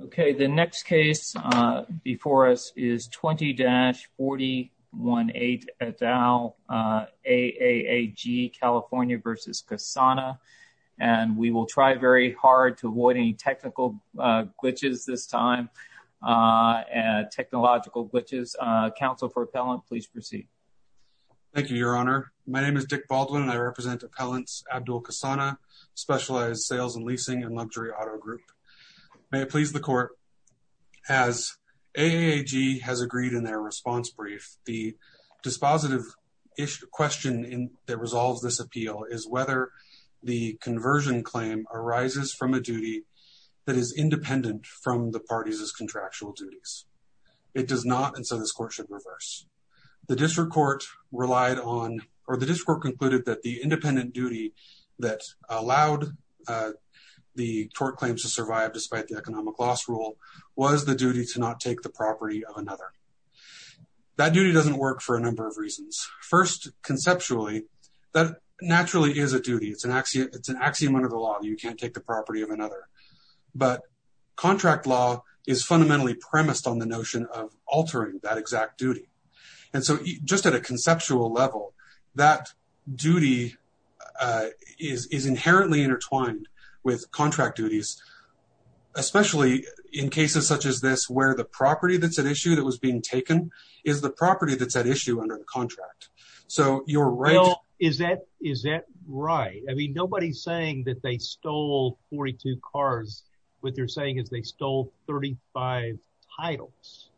Okay the next case before us is 20-418 et al. AAG California v. Kisana and we will try very hard to avoid any technical glitches this time and technological glitches. Council for appellant please proceed. Thank you your honor my name is Dick Baldwin and I represent appellants Abdul Kisana specialized sales and leasing and luxury auto group. May it please the court as AAG has agreed in their response brief the dispositive question in that resolves this appeal is whether the conversion claim arises from a duty that is independent from the party's contractual duties. It does not and so this court should reverse. The district court relied on or the district court concluded that the independent duty that allowed the court claims to survive despite the economic loss rule was the duty to not take the property of another. That duty doesn't work for a number of reasons. First conceptually that naturally is a duty it's an axiom it's an axiom under the law you can't take the property of another but contract law is fundamentally premised on the notion of altering that exact duty and so just at a conceptual level that duty is inherently intertwined with contract duties especially in cases such as this where the property that's at issue that was being taken is the property that's at issue under the contract. So you're right is that is that right I mean nobody's saying that they stole 42 cars what they're saying is they stole 35 titles.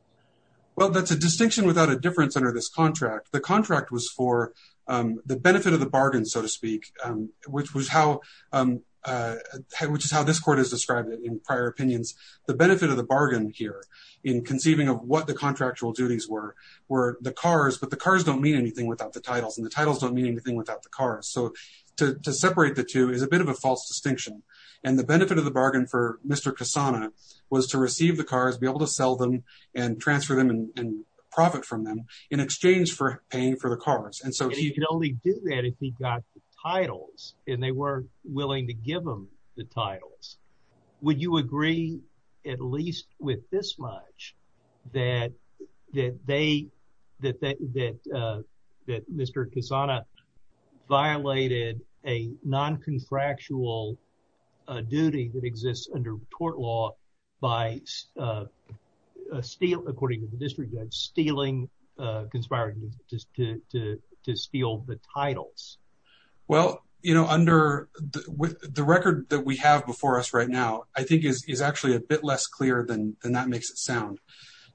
Well that's a distinction without a difference under this contract the contract was for the benefit of the bargain so to speak which was how which is how this court has described it in prior opinions the benefit of the bargain here in conceiving of what the contractual duties were were the cars but the cars don't mean anything without the titles and the titles don't mean anything without the cars so to separate the two is a bit of a false distinction and the benefit of the bargain for Mr. Cassano was to receive the cars be able to sell them and transfer them and profit from them in exchange for paying for the cars and so he could only do that if he got the titles and they weren't willing to give them the titles. Would you agree at least with this much that that they that that that Mr. Cassano violated a non-confractual duty that exists under court law by steal according to the district judge stealing conspiring to steal the titles? Well you know under with the record that we have before us right now I think is actually a bit less clear than that makes it sound.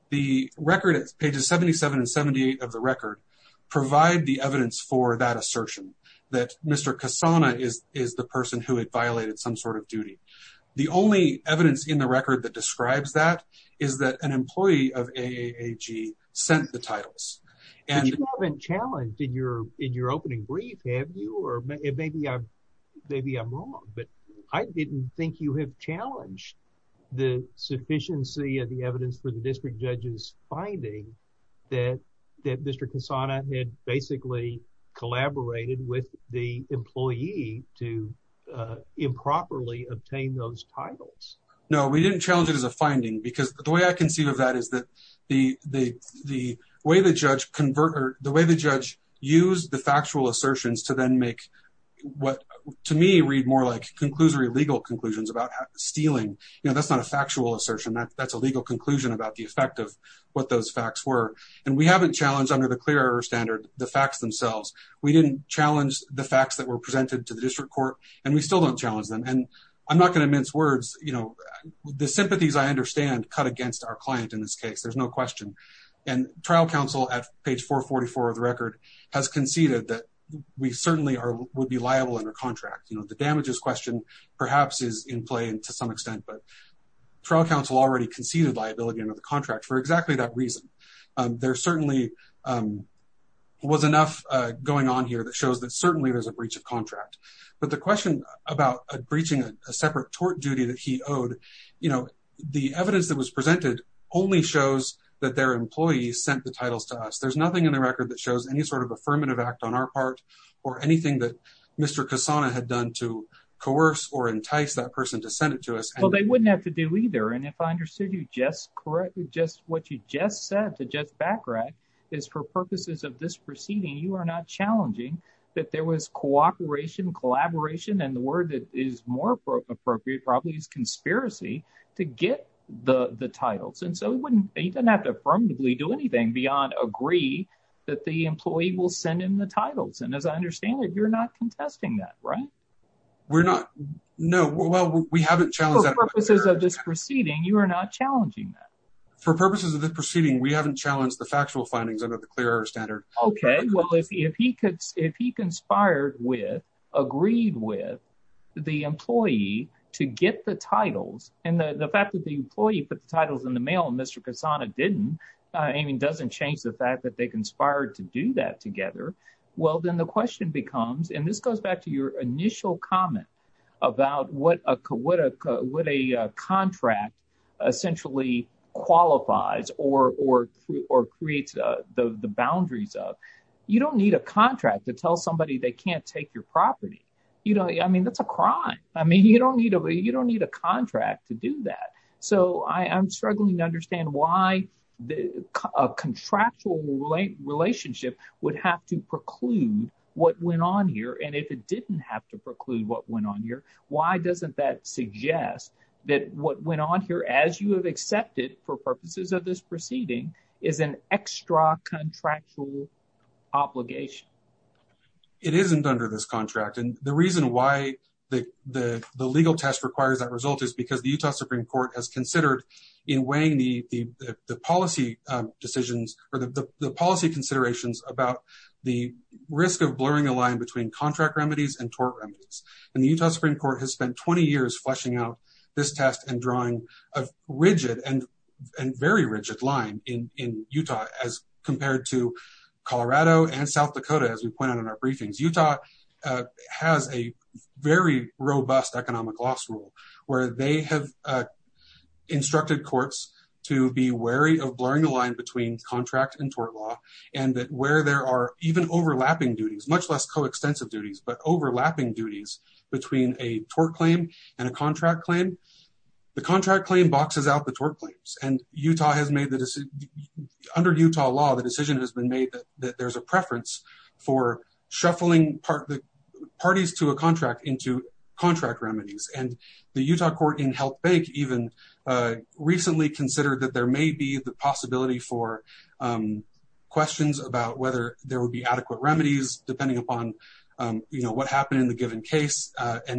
The record is pages 77 and 78 of the record provide the evidence for that assertion that Mr. Cassano is is the person who had violated some sort of duty. The only evidence in the record that describes that is that an employee of AAAG sent the titles and you haven't challenged in your in your opening brief have you or maybe I'm maybe I'm wrong but I didn't think you have challenged the sufficiency of the evidence for the district judge's finding that that Mr. Cassano had basically collaborated with the employee to improperly obtain those titles. No we didn't challenge it as a finding because the way I can see of that is that the the the way the judge convert or the way the judge used the factual assertions to then make what to me read more like conclusory legal conclusions about stealing you know that's not a factual assertion that that's a legal conclusion about the effect of what those facts were and we haven't challenged under the clear standard the facts themselves. We didn't challenge the facts that were presented to the district court and we still don't challenge them and I'm not going to mince words you know the sympathies I understand cut against our client in this case there's no and trial counsel at page 444 of the record has conceded that we certainly are would be liable under contract you know the damages question perhaps is in play and to some extent but trial counsel already conceded liability under the contract for exactly that reason there certainly was enough going on here that shows that certainly there's a breach of contract but the question about a breaching a separate tort duty that he owed you know the evidence that was that their employees sent the titles to us there's nothing in the record that shows any sort of affirmative act on our part or anything that Mr. Cassana had done to coerce or entice that person to send it to us well they wouldn't have to do either and if I understood you just correctly just what you just said to just backtrack is for purposes of this proceeding you are not challenging that there was cooperation collaboration and the word that is more appropriate probably is conspiracy to get the the titles and so he wouldn't he doesn't have to affirmatively do anything beyond agree that the employee will send him the titles and as I understand it you're not contesting that right we're not no well we haven't challenged purposes of this proceeding you are not challenging that for purposes of this proceeding we haven't challenged the factual findings under the clear air standard okay well if he could if he conspired with agreed with the employee to get the titles and the the fact that the employee put the titles in the mail and Mr. Cassana didn't I mean doesn't change the fact that they conspired to do that together well then the question becomes and this goes back to your initial comment about what a what a what a contract essentially qualifies or or or creates the the boundaries of you don't need a contract to tell somebody they can't take your property you know I mean that's a crime I mean you don't need a you don't need a contract to do that so I I'm struggling to understand why the contractual relationship would have to preclude what went on here and if it didn't have to preclude what went on here why doesn't that suggest that what went on here as you have accepted for purposes of this obligation it isn't under this contract and the reason why the the the legal test requires that result is because the Utah Supreme Court has considered in weighing the the the policy decisions or the the policy considerations about the risk of blurring the line between contract remedies and tort remedies and the Utah Supreme Court has spent 20 years fleshing out this test and drawing a rigid and and very rigid line in in Utah as compared to Colorado and South Dakota as we point out in our briefings Utah has a very robust economic loss rule where they have instructed courts to be wary of blurring the line between contract and tort law and that where there are even overlapping duties much less co-extensive duties but overlapping duties between a tort claim and a contract claim the contract claim boxes out the tort claims and Utah has made the decision under Utah law the decision has been made that there's a preference for shuffling part the parties to a contract into contract remedies and the Utah court in health bank even recently considered that there may be the possibility for questions about whether there and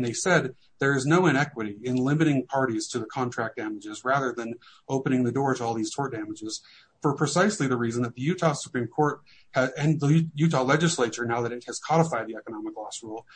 they said there is no inequity in limiting parties to the contract damages rather than opening the door to all these tort damages for precisely the reason that the Utah Supreme Court and the Utah legislature now that it has codified the economic loss rule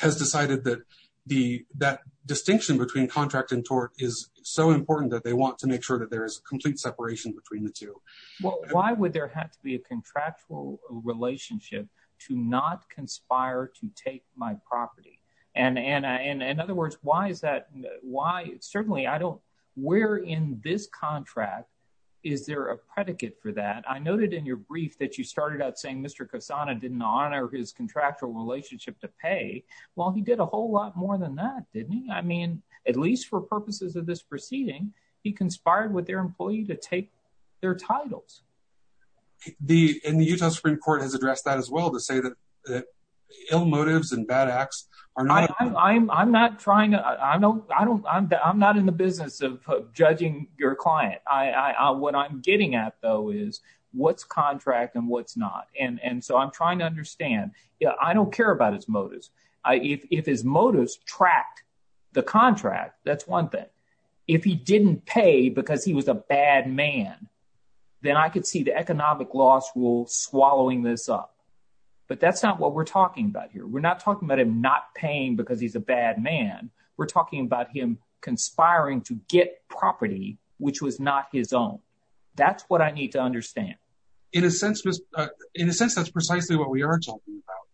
has decided that the that distinction between contract and tort is so important that they want to make sure that there is a complete separation between the two well why would have to be a contractual relationship to not conspire to take my property and and in other words why is that why certainly I don't where in this contract is there a predicate for that I noted in your brief that you started out saying Mr. Cassano didn't honor his contractual relationship to pay well he did a whole lot more than that didn't he I mean at least for purposes of this proceeding he conspired with their employee to take their titles the in the Utah Supreme Court has addressed that as well to say that ill motives and bad acts are not I'm not trying to I know I don't I'm not in the business of judging your client I what I'm getting at though is what's contract and what's not and and so I'm trying to understand yeah I don't care about his motives if his motives tracked the contract that's one thing if he didn't pay because he was a bad man then I could see the economic loss rule swallowing this up but that's not what we're talking about here we're not talking about him not paying because he's a bad man we're talking about him conspiring to get property which was not his own that's what I need to understand in a sense in a sense that's precisely what we are talking about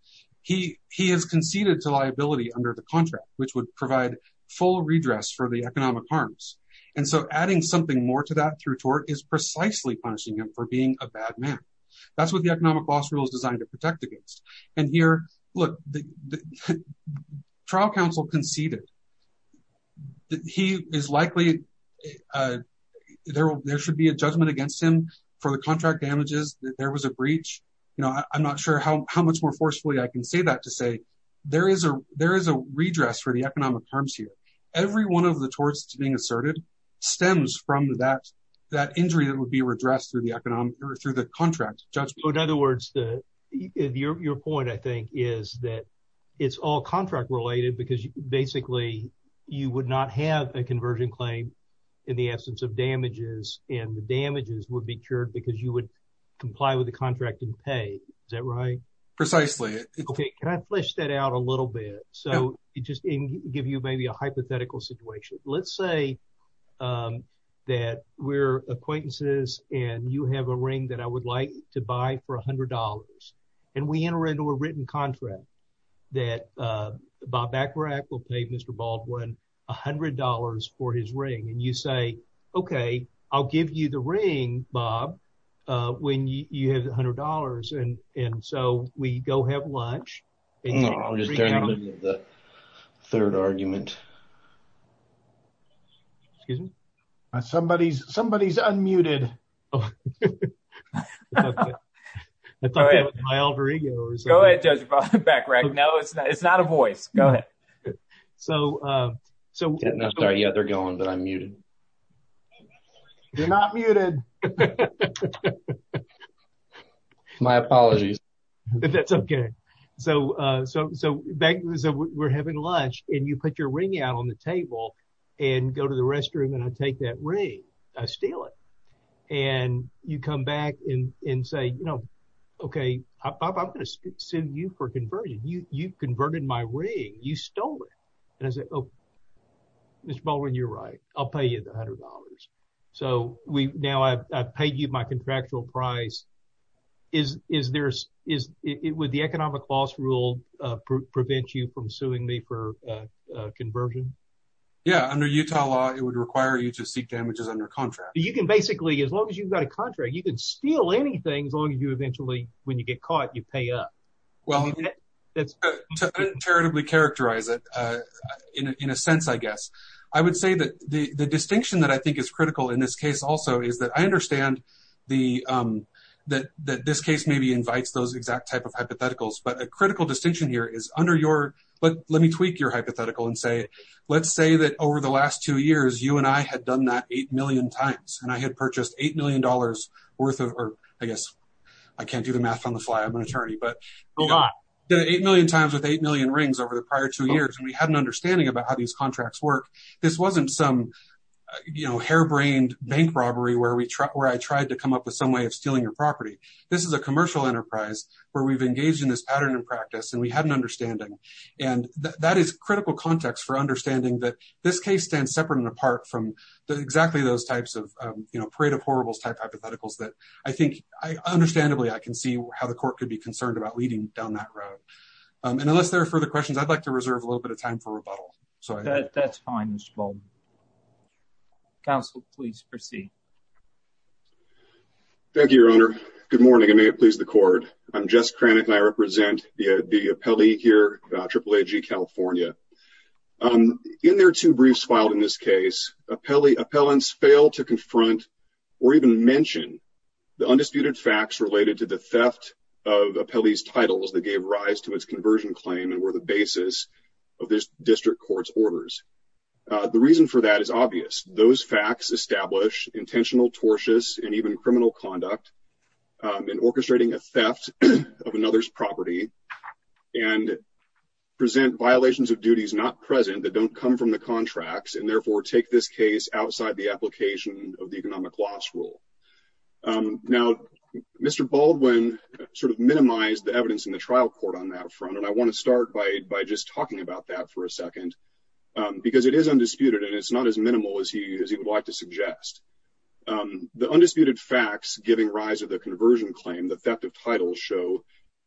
he he has conceded to liability under the contract which would provide full redress for the economic harms and so adding something more to that through tort is precisely punishing him for being a bad man that's what the economic loss rule is designed to protect against and here look the trial counsel conceded he is likely uh there will there should be a judgment against him for the contract damages there was a breach you know I'm not sure how much more forcefully I can say that to say there is a there is a redress for the economic harms here every one of the torts being asserted stems from that that injury that would be redressed through the economic or through the contract judgment in other words the your your point I think is that it's all contract related because basically you would not have a conversion claim in the absence of damages and the damages would be cured because you would comply with the contract and pay is that right precisely okay can I flesh that out a little bit so just give you maybe a hypothetical situation let's say um that we're acquaintances and you have a ring that I would like to buy for a hundred dollars and we enter into a written contract that uh Bob Bacharach will pay Mr. Baldwin a hundred dollars for his ring and you say okay I'll give you the ring Bob uh when you have a hundred dollars and and so we go have lunch I'm just doing the third argument excuse me somebody's somebody's unmuted go ahead judge back right now it's not it's not a voice go ahead so uh so sorry yeah they're going but I'm muted you're not muted my apologies but that's okay so uh so so back so we're having lunch and you put your ring out on the table and go to the restroom and I take that ring I steal it and you come back and and say you you converted my ring you stole it and I said oh Mr. Baldwin you're right I'll pay you a hundred dollars so we now I've paid you my contractual price is is there's is it would the economic loss rule uh prevent you from suing me for uh uh conversion yeah under Utah law it would require you to seek damages under contract you can basically as long as you've got a contract you can steal anything as long as you eventually when you get caught you pay up well that's charitably characterize it uh in a sense I guess I would say that the the distinction that I think is critical in this case also is that I understand the um that that this case maybe invites those exact type of hypotheticals but a critical distinction here is under your but let me tweak your hypothetical and say let's say that over the last two years you and I had done that eight million times and I had purchased eight million dollars worth of or I guess I can't do the math on the fly I'm an attorney but a lot the eight million times with eight million rings over the prior two years and we had an understanding about how these contracts work this wasn't some you know harebrained bank robbery where we where I tried to come up with some way of stealing your property this is a commercial enterprise where we've engaged in this pattern and practice and we had an understanding and that is critical context for understanding that this case stands separate and apart from the exactly those types of you know parade of horribles type hypotheticals that I think I understandably I can see how the court could be concerned about leading down that road and unless there are further questions I'd like to reserve a little bit of time for rebuttal so that's fine Mr. Baldwin. Counsel please proceed. Thank you your honor good morning and may it please the court I'm Jess Cranick and I represent the the appellee here AAAG California um in their two briefs filed in this case appellee appellants fail to confront or even mention the undisputed facts related to the theft of appellee's titles that gave rise to its conversion claim and were the basis of this district court's orders uh the reason for that is obvious those facts establish intentional tortious and even criminal conduct um in orchestrating a theft of another's property and present violations of duties not present that don't come from the contracts and therefore take this case outside the application of the economic loss rule um now Mr. Baldwin sort of minimized the evidence in the trial court on that front and I want to start by by just talking about that for a second um because it is undisputed and it's not as minimal as he as he would like to suggest um the undisputed facts giving rise of the conversion claim the theft of titles show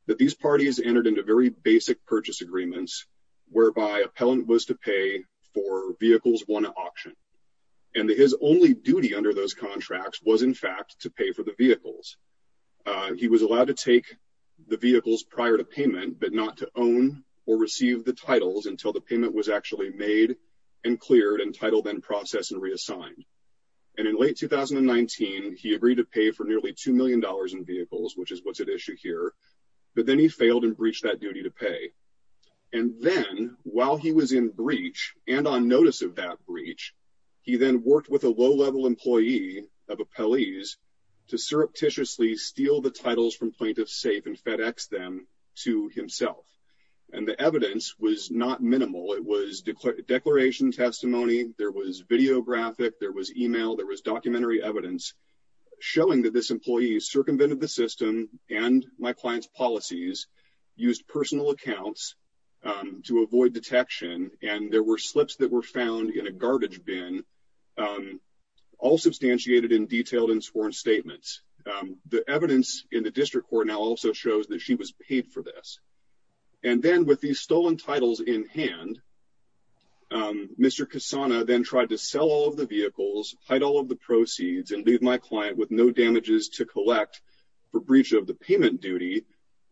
that these parties entered into very basic purchase agreements whereby appellant was to pay for vehicles one auction and his only duty under those contracts was in fact to pay for the vehicles uh he was allowed to take the vehicles prior to payment but not to own or receive the titles until the payment was actually made and cleared and titled and processed and reassigned and in late 2019 he agreed to pay for nearly two million dollars in vehicles which is what's at issue here but then he failed and breached that duty to pay and then while he was in breach and on notice of that breach he then worked with a low-level employee of appellees to surreptitiously steal the titles from plaintiffs safe and FedEx them to himself and the evidence was not minimal it was declaration testimony there was videographic there was email there was documentary evidence showing that this employee circumvented the system and my client's policies used personal accounts to avoid detection and there were slips that were found in a garbage bin all substantiated in detailed and sworn statements the evidence in the district court now also shows that she was paid for this and then with these stolen titles in hand um Mr. Cassana then tried to sell all of the vehicles hide all of the proceeds and leave my client with no damages to collect for breach of the payment duty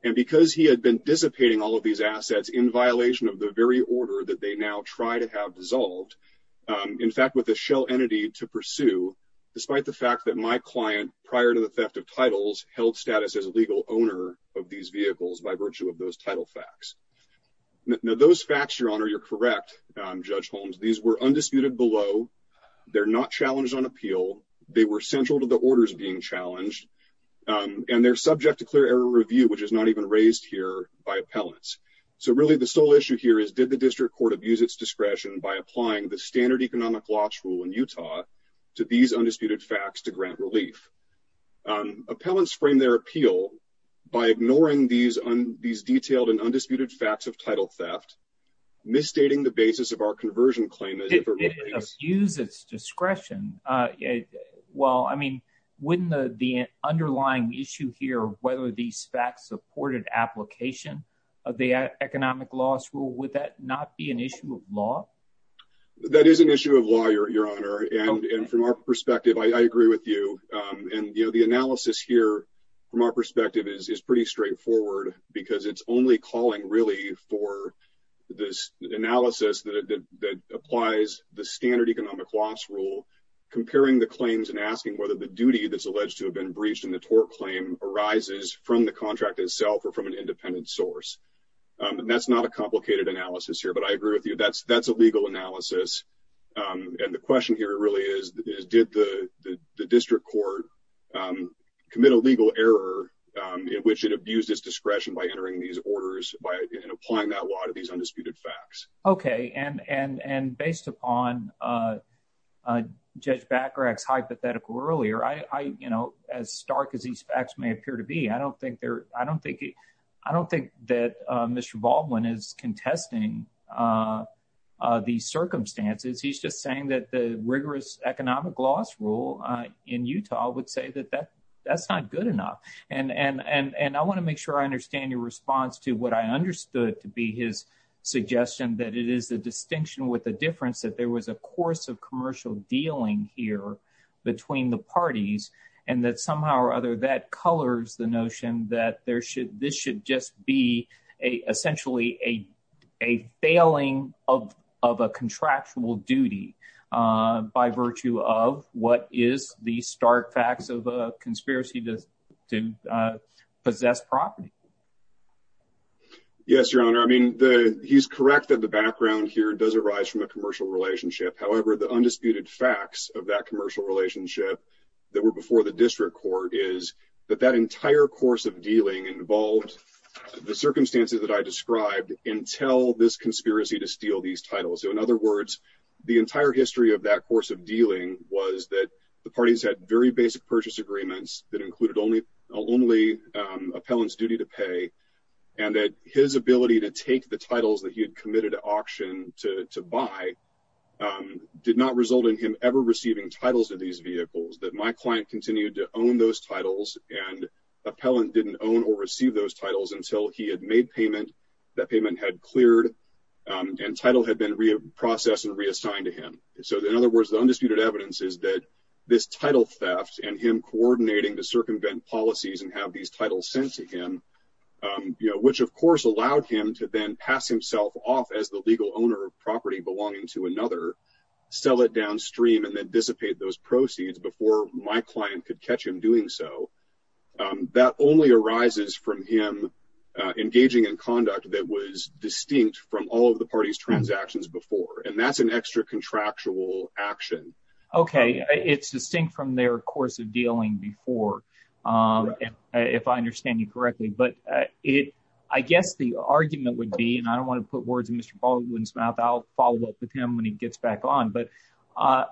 and because he had been dissipating all of these assets in violation of the very order that they now try to have dissolved in fact with a shell entity to pursue despite the fact that my client prior to the theft of titles held status as a legal owner of these vehicles by virtue of those title facts now those facts your honor you're correct um Judge Holmes these were undisputed below they're not challenged on appeal they were central to the orders being challenged and they're subject to clear error review which is not even raised here by appellants so really the sole issue here is did the district court abuse its discretion by applying the standard economic loss rule in Utah to these undisputed facts to grant relief um appellants frame their appeal by ignoring these on these detailed and undisputed facts of title theft misstating the basis of our conversion claim it uses discretion uh well I mean wouldn't the the underlying issue here whether these facts supported application of the economic loss rule would that not be an issue of law that is an issue of law your honor and and from our perspective I agree with you um and you know the analysis here from our perspective is is pretty straightforward because it's only calling really for this analysis that that applies the standard economic loss rule comparing the claims and asking whether the duty that's alleged to have been breached in the tort claim arises from the contract itself or from an independent source um and that's not a complicated analysis here but I agree with you that's that's a legal analysis um and the question here really is did the the district court um commit a legal error um in which it abused its discretion by entering these orders by and applying that law to these undisputed facts okay and and and based upon uh uh judge back rack's hypothetical earlier I I you know as stark as these facts may appear to be I don't think they're I don't think I don't think that uh Mr. Baldwin is contesting uh uh circumstances he's just saying that the rigorous economic loss rule uh in Utah would say that that that's not good enough and and and and I want to make sure I understand your response to what I understood to be his suggestion that it is the distinction with the difference that there was a course of commercial dealing here between the parties and that somehow or other that colors that there should this should just be a essentially a a failing of of a contractual duty uh by virtue of what is the stark facts of a conspiracy to to uh possess property yes your honor I mean the he's correct that the background here does arise from a commercial relationship however the undisputed facts of that commercial relationship that were before the course of dealing involved the circumstances that I described until this conspiracy to steal these titles so in other words the entire history of that course of dealing was that the parties had very basic purchase agreements that included only only um appellant's duty to pay and that his ability to take the titles that he had committed to auction to to buy um did not result in him ever titles of these vehicles that my client continued to own those titles and appellant didn't own or receive those titles until he had made payment that payment had cleared um and title had been processed and reassigned to him so in other words the undisputed evidence is that this title theft and him coordinating to circumvent policies and have these titles sent to him um you know which of course allowed him to then pass himself off as the legal owner of property belonging to another sell it downstream and then dissipate those proceeds before my client could catch him doing so that only arises from him engaging in conduct that was distinct from all of the party's transactions before and that's an extra contractual action okay it's distinct from their course of dealing before um if I understand you correctly but it I guess the argument would be and I don't when he gets back on but uh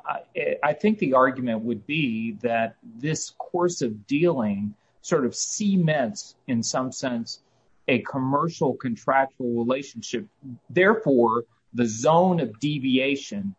I think the argument would be that this course of dealing sort of cements in some sense a commercial contractual relationship therefore the zone of deviation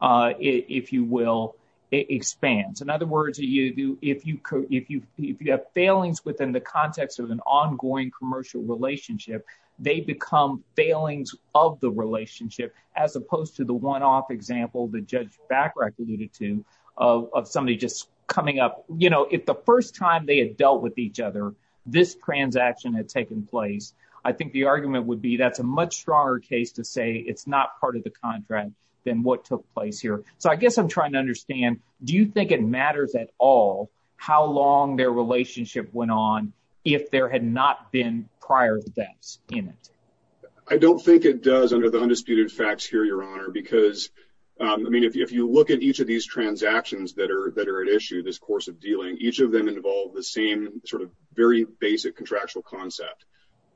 uh if you will expands in other words you do if you could if you if you have failings within the context of an ongoing commercial relationship they become failings of the relationship as opposed to the one-off example the judge back recluded to of somebody just coming up you know if the first time they had dealt with each other this transaction had taken place I think the argument would be that's a much stronger case to say it's not part of the contract than what took place here so I guess I'm trying to understand do you think it matters at all how long their relationship went on if there had not been prior thefts in it I don't think it does under the facts here your honor because um I mean if you look at each of these transactions that are that are at issue this course of dealing each of them involve the same sort of very basic contractual concept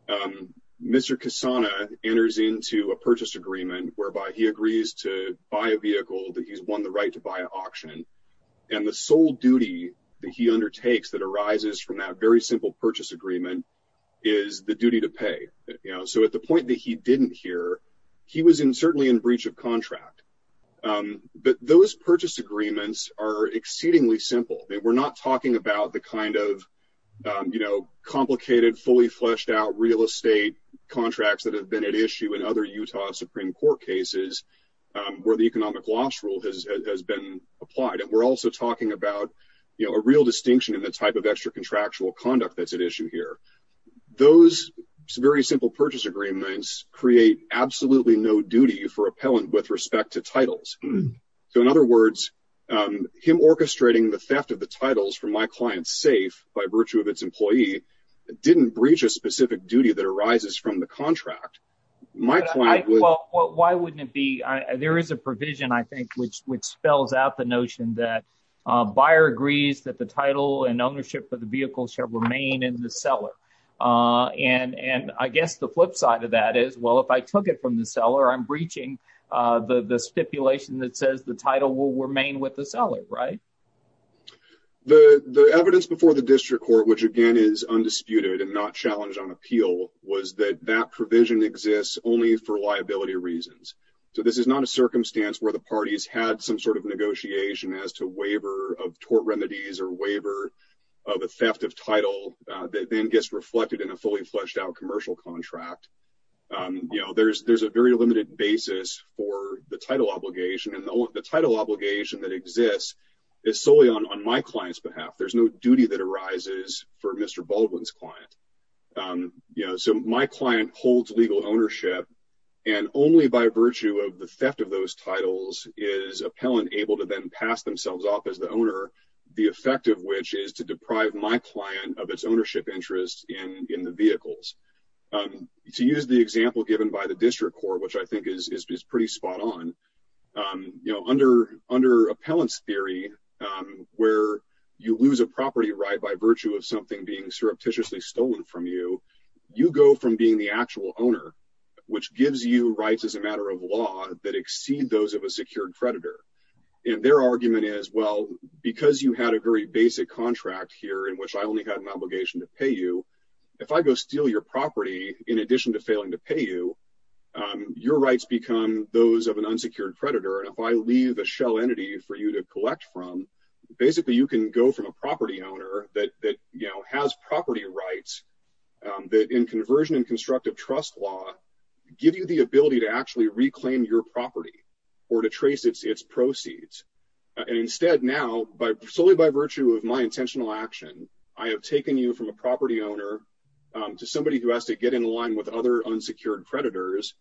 um Mr. Kasana enters into a purchase agreement whereby he agrees to buy a vehicle that he's won the right to buy an auction and the sole duty that he undertakes that arises from that very simple purchase agreement is the duty to pay you know so at the point that he didn't hear he was in certainly in breach of contract um but those purchase agreements are exceedingly simple they were not talking about the kind of um you know complicated fully fleshed out real estate contracts that have been at issue in other Utah Supreme Court cases um where the economic loss rule has been applied and we're also talking about you know a real distinction in the type of extra contractual conduct that's at issue here those very simple purchase agreements create absolutely no duty for appellant with respect to titles so in other words um him orchestrating the theft of the titles from my client's safe by virtue of its employee didn't breach a specific duty that arises from the contract my client well why wouldn't it be there is a provision I think which which spells out the notion that buyer agrees that the title and ownership of the vehicle shall remain in the cellar uh and and I guess the flip side of that is well if I took it from the cellar I'm breaching uh the the stipulation that says the title will remain with the cellar right the the evidence before the district court which again is undisputed and not challenged on appeal was that that provision exists only for liability reasons so this is not a circumstance where the parties had some sort of negotiation as to waiver of court remedies or waiver of a theft of title that then gets reflected in a fully fleshed out commercial contract um you know there's there's a very limited basis for the title obligation and the title obligation that exists is solely on on my client's behalf there's no duty that arises for Mr. Baldwin's client um you know so my client holds legal ownership and only by virtue of the theft of those titles is appellant able to then pass themselves off as the owner the effect of which is to deprive my client of its ownership interest in in the vehicles um to use the example given by the district court which I think is is pretty spot on um you know under under appellants theory um where you lose a property right by virtue of something being surreptitiously stolen from you you go from being the actual owner which gives you rights as a matter of law that exceed those of a secured creditor and their argument is well because you had a very basic contract here in which I only had an obligation to pay you if I go steal your property in addition to failing to pay you um your rights become those of an unsecured creditor and if I leave a shell entity for you to collect from basically you can go from a property owner that that you know has property rights um that in conversion and constructive trust law give you the ability to actually reclaim your property or to trace its its proceeds and instead now by solely by virtue of my intentional action I have taken you from a property owner um to somebody who has to get in line with other unsecured creditors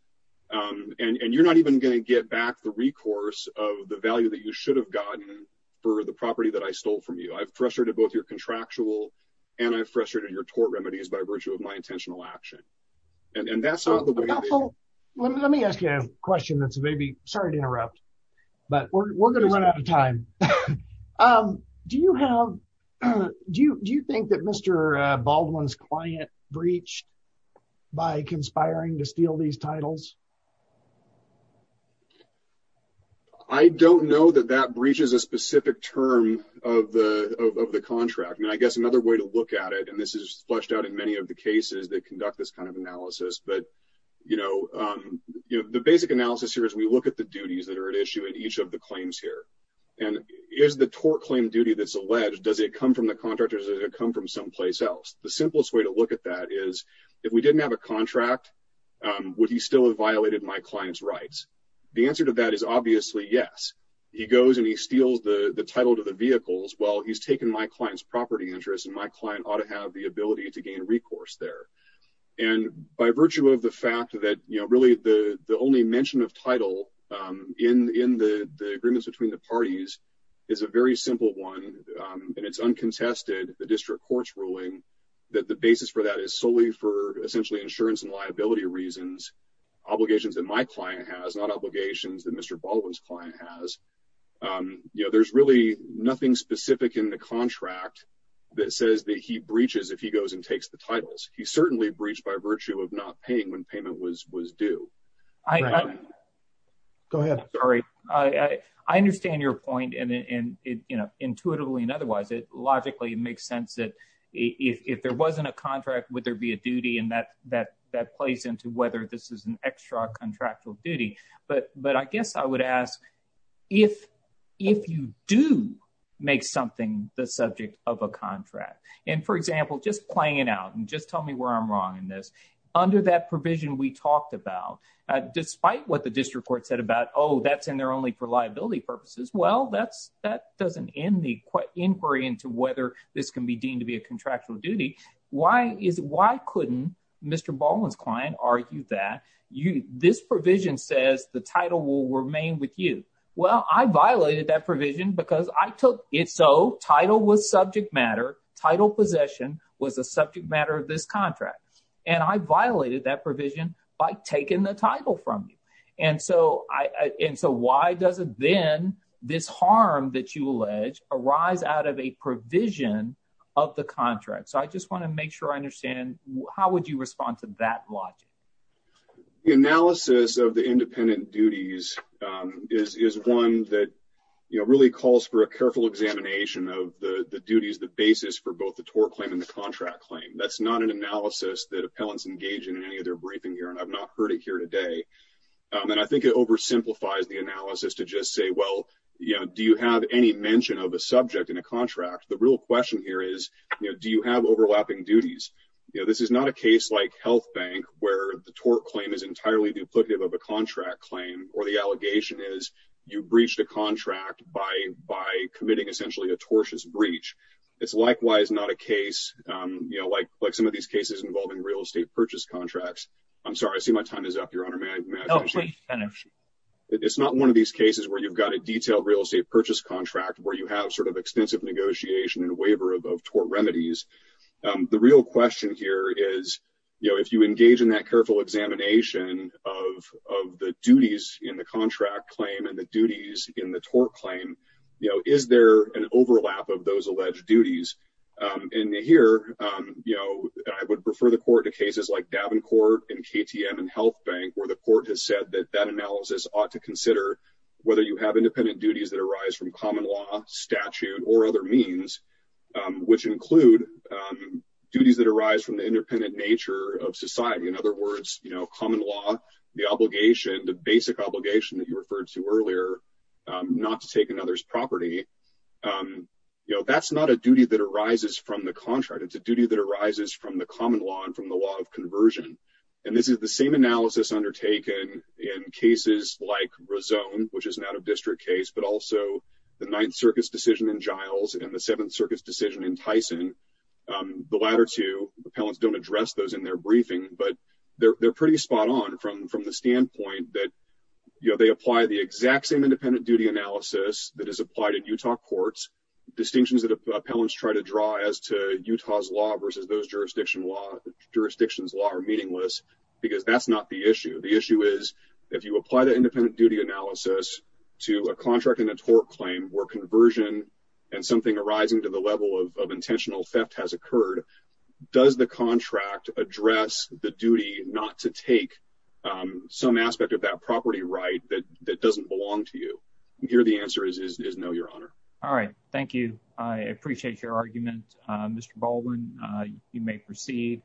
um and and you're not even going to get back the recourse of the value that you should have gotten for the property that I stole from you I've frustrated both your contractual and I've frustrated your tort remedies by virtue of my intentional action and that's not the way let me ask you a question that's maybe sorry to interrupt but we're going to run out of time um do you have do you do you think that Mr uh Baldwin's client breached by conspiring to steal these titles I don't know that that breaches a specific term of the of the contract I mean I guess another way to look at it and this is fleshed out in many of the cases that conduct this kind of analysis but you know um you the basic analysis here is we look at the duties that are at issue in each of the claims here and is the tort claim duty that's alleged does it come from the contractors does it come from someplace else the simplest way to look at that is if we didn't have a contract um would he still have violated my client's rights the answer to that is obviously yes he goes and he steals the the title to the vehicles well he's taken my client's property interest and my client ought to have the ability to gain recourse there and by virtue of the fact that you know really the only mention of title um in in the the agreements between the parties is a very simple one um and it's uncontested the district court's ruling that the basis for that is solely for essentially insurance and liability reasons obligations that my client has not obligations that Mr. Baldwin's client has um you know there's really nothing specific in the contract that says that he breaches if he goes and takes the titles he certainly breached by virtue of not paying when payment was was due I go ahead sorry I I understand your point and and it you know intuitively and otherwise it logically makes sense that if if there wasn't a contract would there be a duty and that that that plays into whether this is an extra contractual duty but but I guess I would ask if if you do make something the subject of a contract and for out and just tell me where I'm wrong in this under that provision we talked about despite what the district court said about oh that's in there only for liability purposes well that's that doesn't end the inquiry into whether this can be deemed to be a contractual duty why is why couldn't Mr. Baldwin's client argue that you this provision says the title will remain with you well I violated that provision because I took it so title was subject matter title possession was a subject matter of this contract and I violated that provision by taking the title from you and so I and so why doesn't then this harm that you allege arise out of a provision of the contract so I just want to make sure I understand how would you respond to that logic the analysis of the independent duties um is is one that you know really calls for a careful examination of the the duties the basis for both the tort claim and the contract claim that's not an analysis that appellants engage in any of their briefing here and I've not heard it here today and I think it oversimplifies the analysis to just say well you know do you have any mention of a subject in a contract the real question here is you know do you have overlapping duties you know this is not a case like health bank where the tort claim is entirely duplicative of a contract claim or the allegation is you breached a contract by by committing essentially a tortious breach it's likewise not a case um you know like like some of these cases involving real estate purchase contracts I'm sorry I see my time is up your honor man oh please finish it's not one of these cases where you've got a detailed real estate purchase contract where you have sort of extensive negotiation and waiver of tort remedies um the real question here is you know if you engage in that careful examination of of the duties in the contract claim and the duties in the tort claim you know is there an overlap of those alleged duties um and here um you know I would prefer the court to cases like Davenport and KTM and health bank where the court has said that that analysis ought to consider whether you have independent duties that arise from common law statute or other means um which include um duties that arise from the independent nature of society in other words you know common law the obligation the basic obligation that you referred to earlier not to take another's property um you know that's not a duty that arises from the contract it's a duty that arises from the common law and from the law of conversion and this is the same analysis undertaken in cases like Razone which is an out-of-district case but also the Ninth Circuit's decision in Giles and the Seventh Circuit's decision in Tyson um the latter two appellants don't address those in their briefing but they're pretty spot on from from the standpoint that you know they apply the exact same independent duty analysis that is applied in Utah courts distinctions that appellants try to draw as to Utah's law versus those jurisdiction law jurisdictions law are meaningless because that's not the issue the issue is if you apply the independent duty analysis to a contract in a tort claim where conversion and something arising to level of intentional theft has occurred does the contract address the duty not to take um some aspect of that property right that that doesn't belong to you here the answer is is no your honor all right thank you I appreciate your argument uh Mr. Baldwin uh you may proceed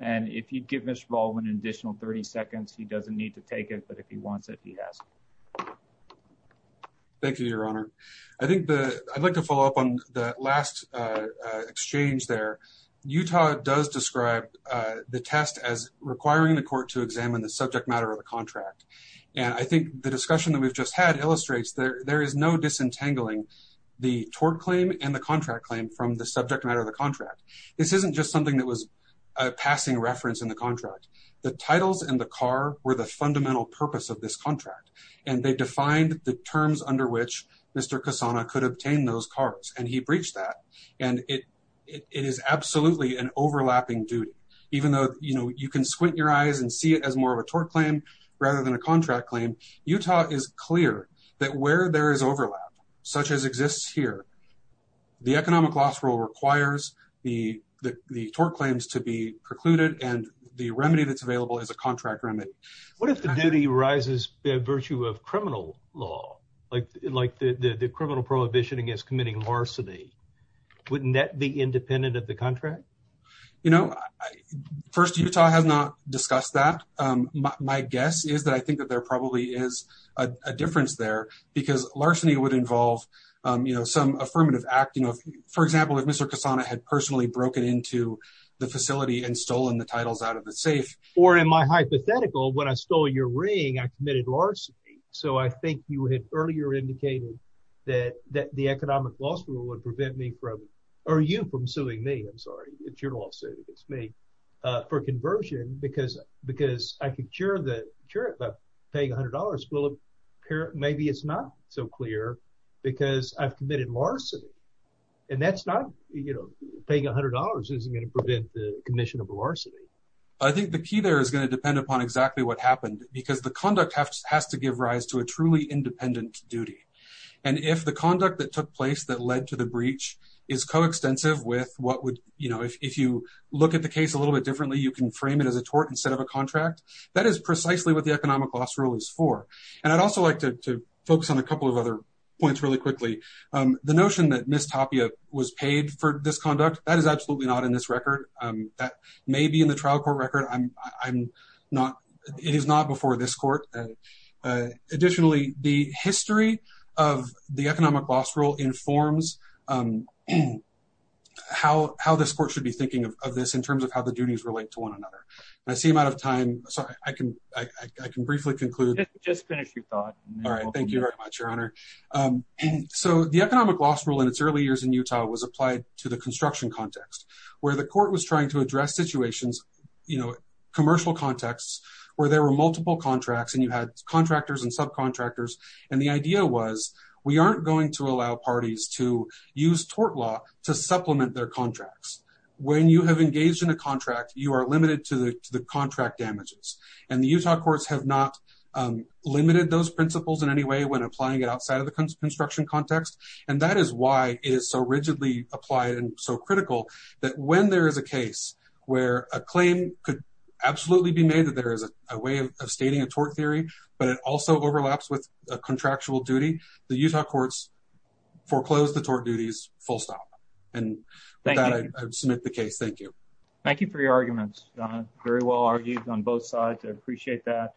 and if you give Mr. Baldwin an additional 30 seconds he doesn't need to take it but if he wants it he has thank you your honor I think the I'd like to follow up on the last uh exchange there Utah does describe uh the test as requiring the court to examine the subject matter of the contract and I think the discussion that we've just had illustrates there there is no disentangling the tort claim and the contract claim from the subject matter of the contract this isn't just something that was a passing reference in the contract the titles and the car were the and they defined the terms under which Mr. Cassana could obtain those cards and he breached that and it it is absolutely an overlapping duty even though you know you can squint your eyes and see it as more of a tort claim rather than a contract claim Utah is clear that where there is overlap such as exists here the economic loss rule requires the the tort claims to be precluded and the remedy that's available is a contract remit what if the duty arises by virtue of criminal law like like the the criminal prohibition against committing larceny wouldn't that be independent of the contract you know first Utah has not discussed that um my guess is that I think that there probably is a difference there because larceny would involve um you know some affirmative act you know for example if Mr. Cassana had personally broken into the facility and stolen the titles out of the safe or in my hypothetical when I stole your ring I committed larceny so I think you had earlier indicated that that the economic loss rule would prevent me from or you from suing me I'm sorry it's your lawsuit it's me uh for conversion because because I could cure the cure it by paying a hundred dollars will appear maybe it's not so clear because I've committed larceny and that's not you know paying a hundred dollars isn't going to prevent the commission of larceny I think the key there is going to depend upon exactly what happened because the conduct has to give rise to a truly independent duty and if the conduct that took place that led to the breach is coextensive with what would you know if you look at the case a little bit differently you can frame it as a tort instead of a contract that is precisely what the economic loss rule is for and I'd also like to focus on a couple of other points really quickly um the notion that Miss Tapia was paid for this conduct that is absolutely not in this record that may be in the trial court record I'm I'm not it is not before this court additionally the history of the economic loss rule informs um how how this court should be thinking of this in terms of how the duties relate to one another and I seem out of time sorry I can I can briefly conclude just finish your thought all right thank you very much your honor um so the economic loss rule in its early years in Utah was applied to the construction context where the court was trying to address situations you know commercial contexts where there were multiple contracts and you had contractors and subcontractors and the idea was we aren't going to allow parties to use tort law to supplement their contracts when you have engaged in a contract you are limited to the contract damages and the Utah courts have not um limited those principles in any way when applying it outside of the construction context and that is why it is so rigidly applied and so critical that when there is a case where a claim could absolutely be made that there is a way of stating a tort theory but it also overlaps with a contractual duty the Utah courts foreclose the tort duties full stop and then I submit the case thank you thank you for your arguments very well argued on both sides I appreciate that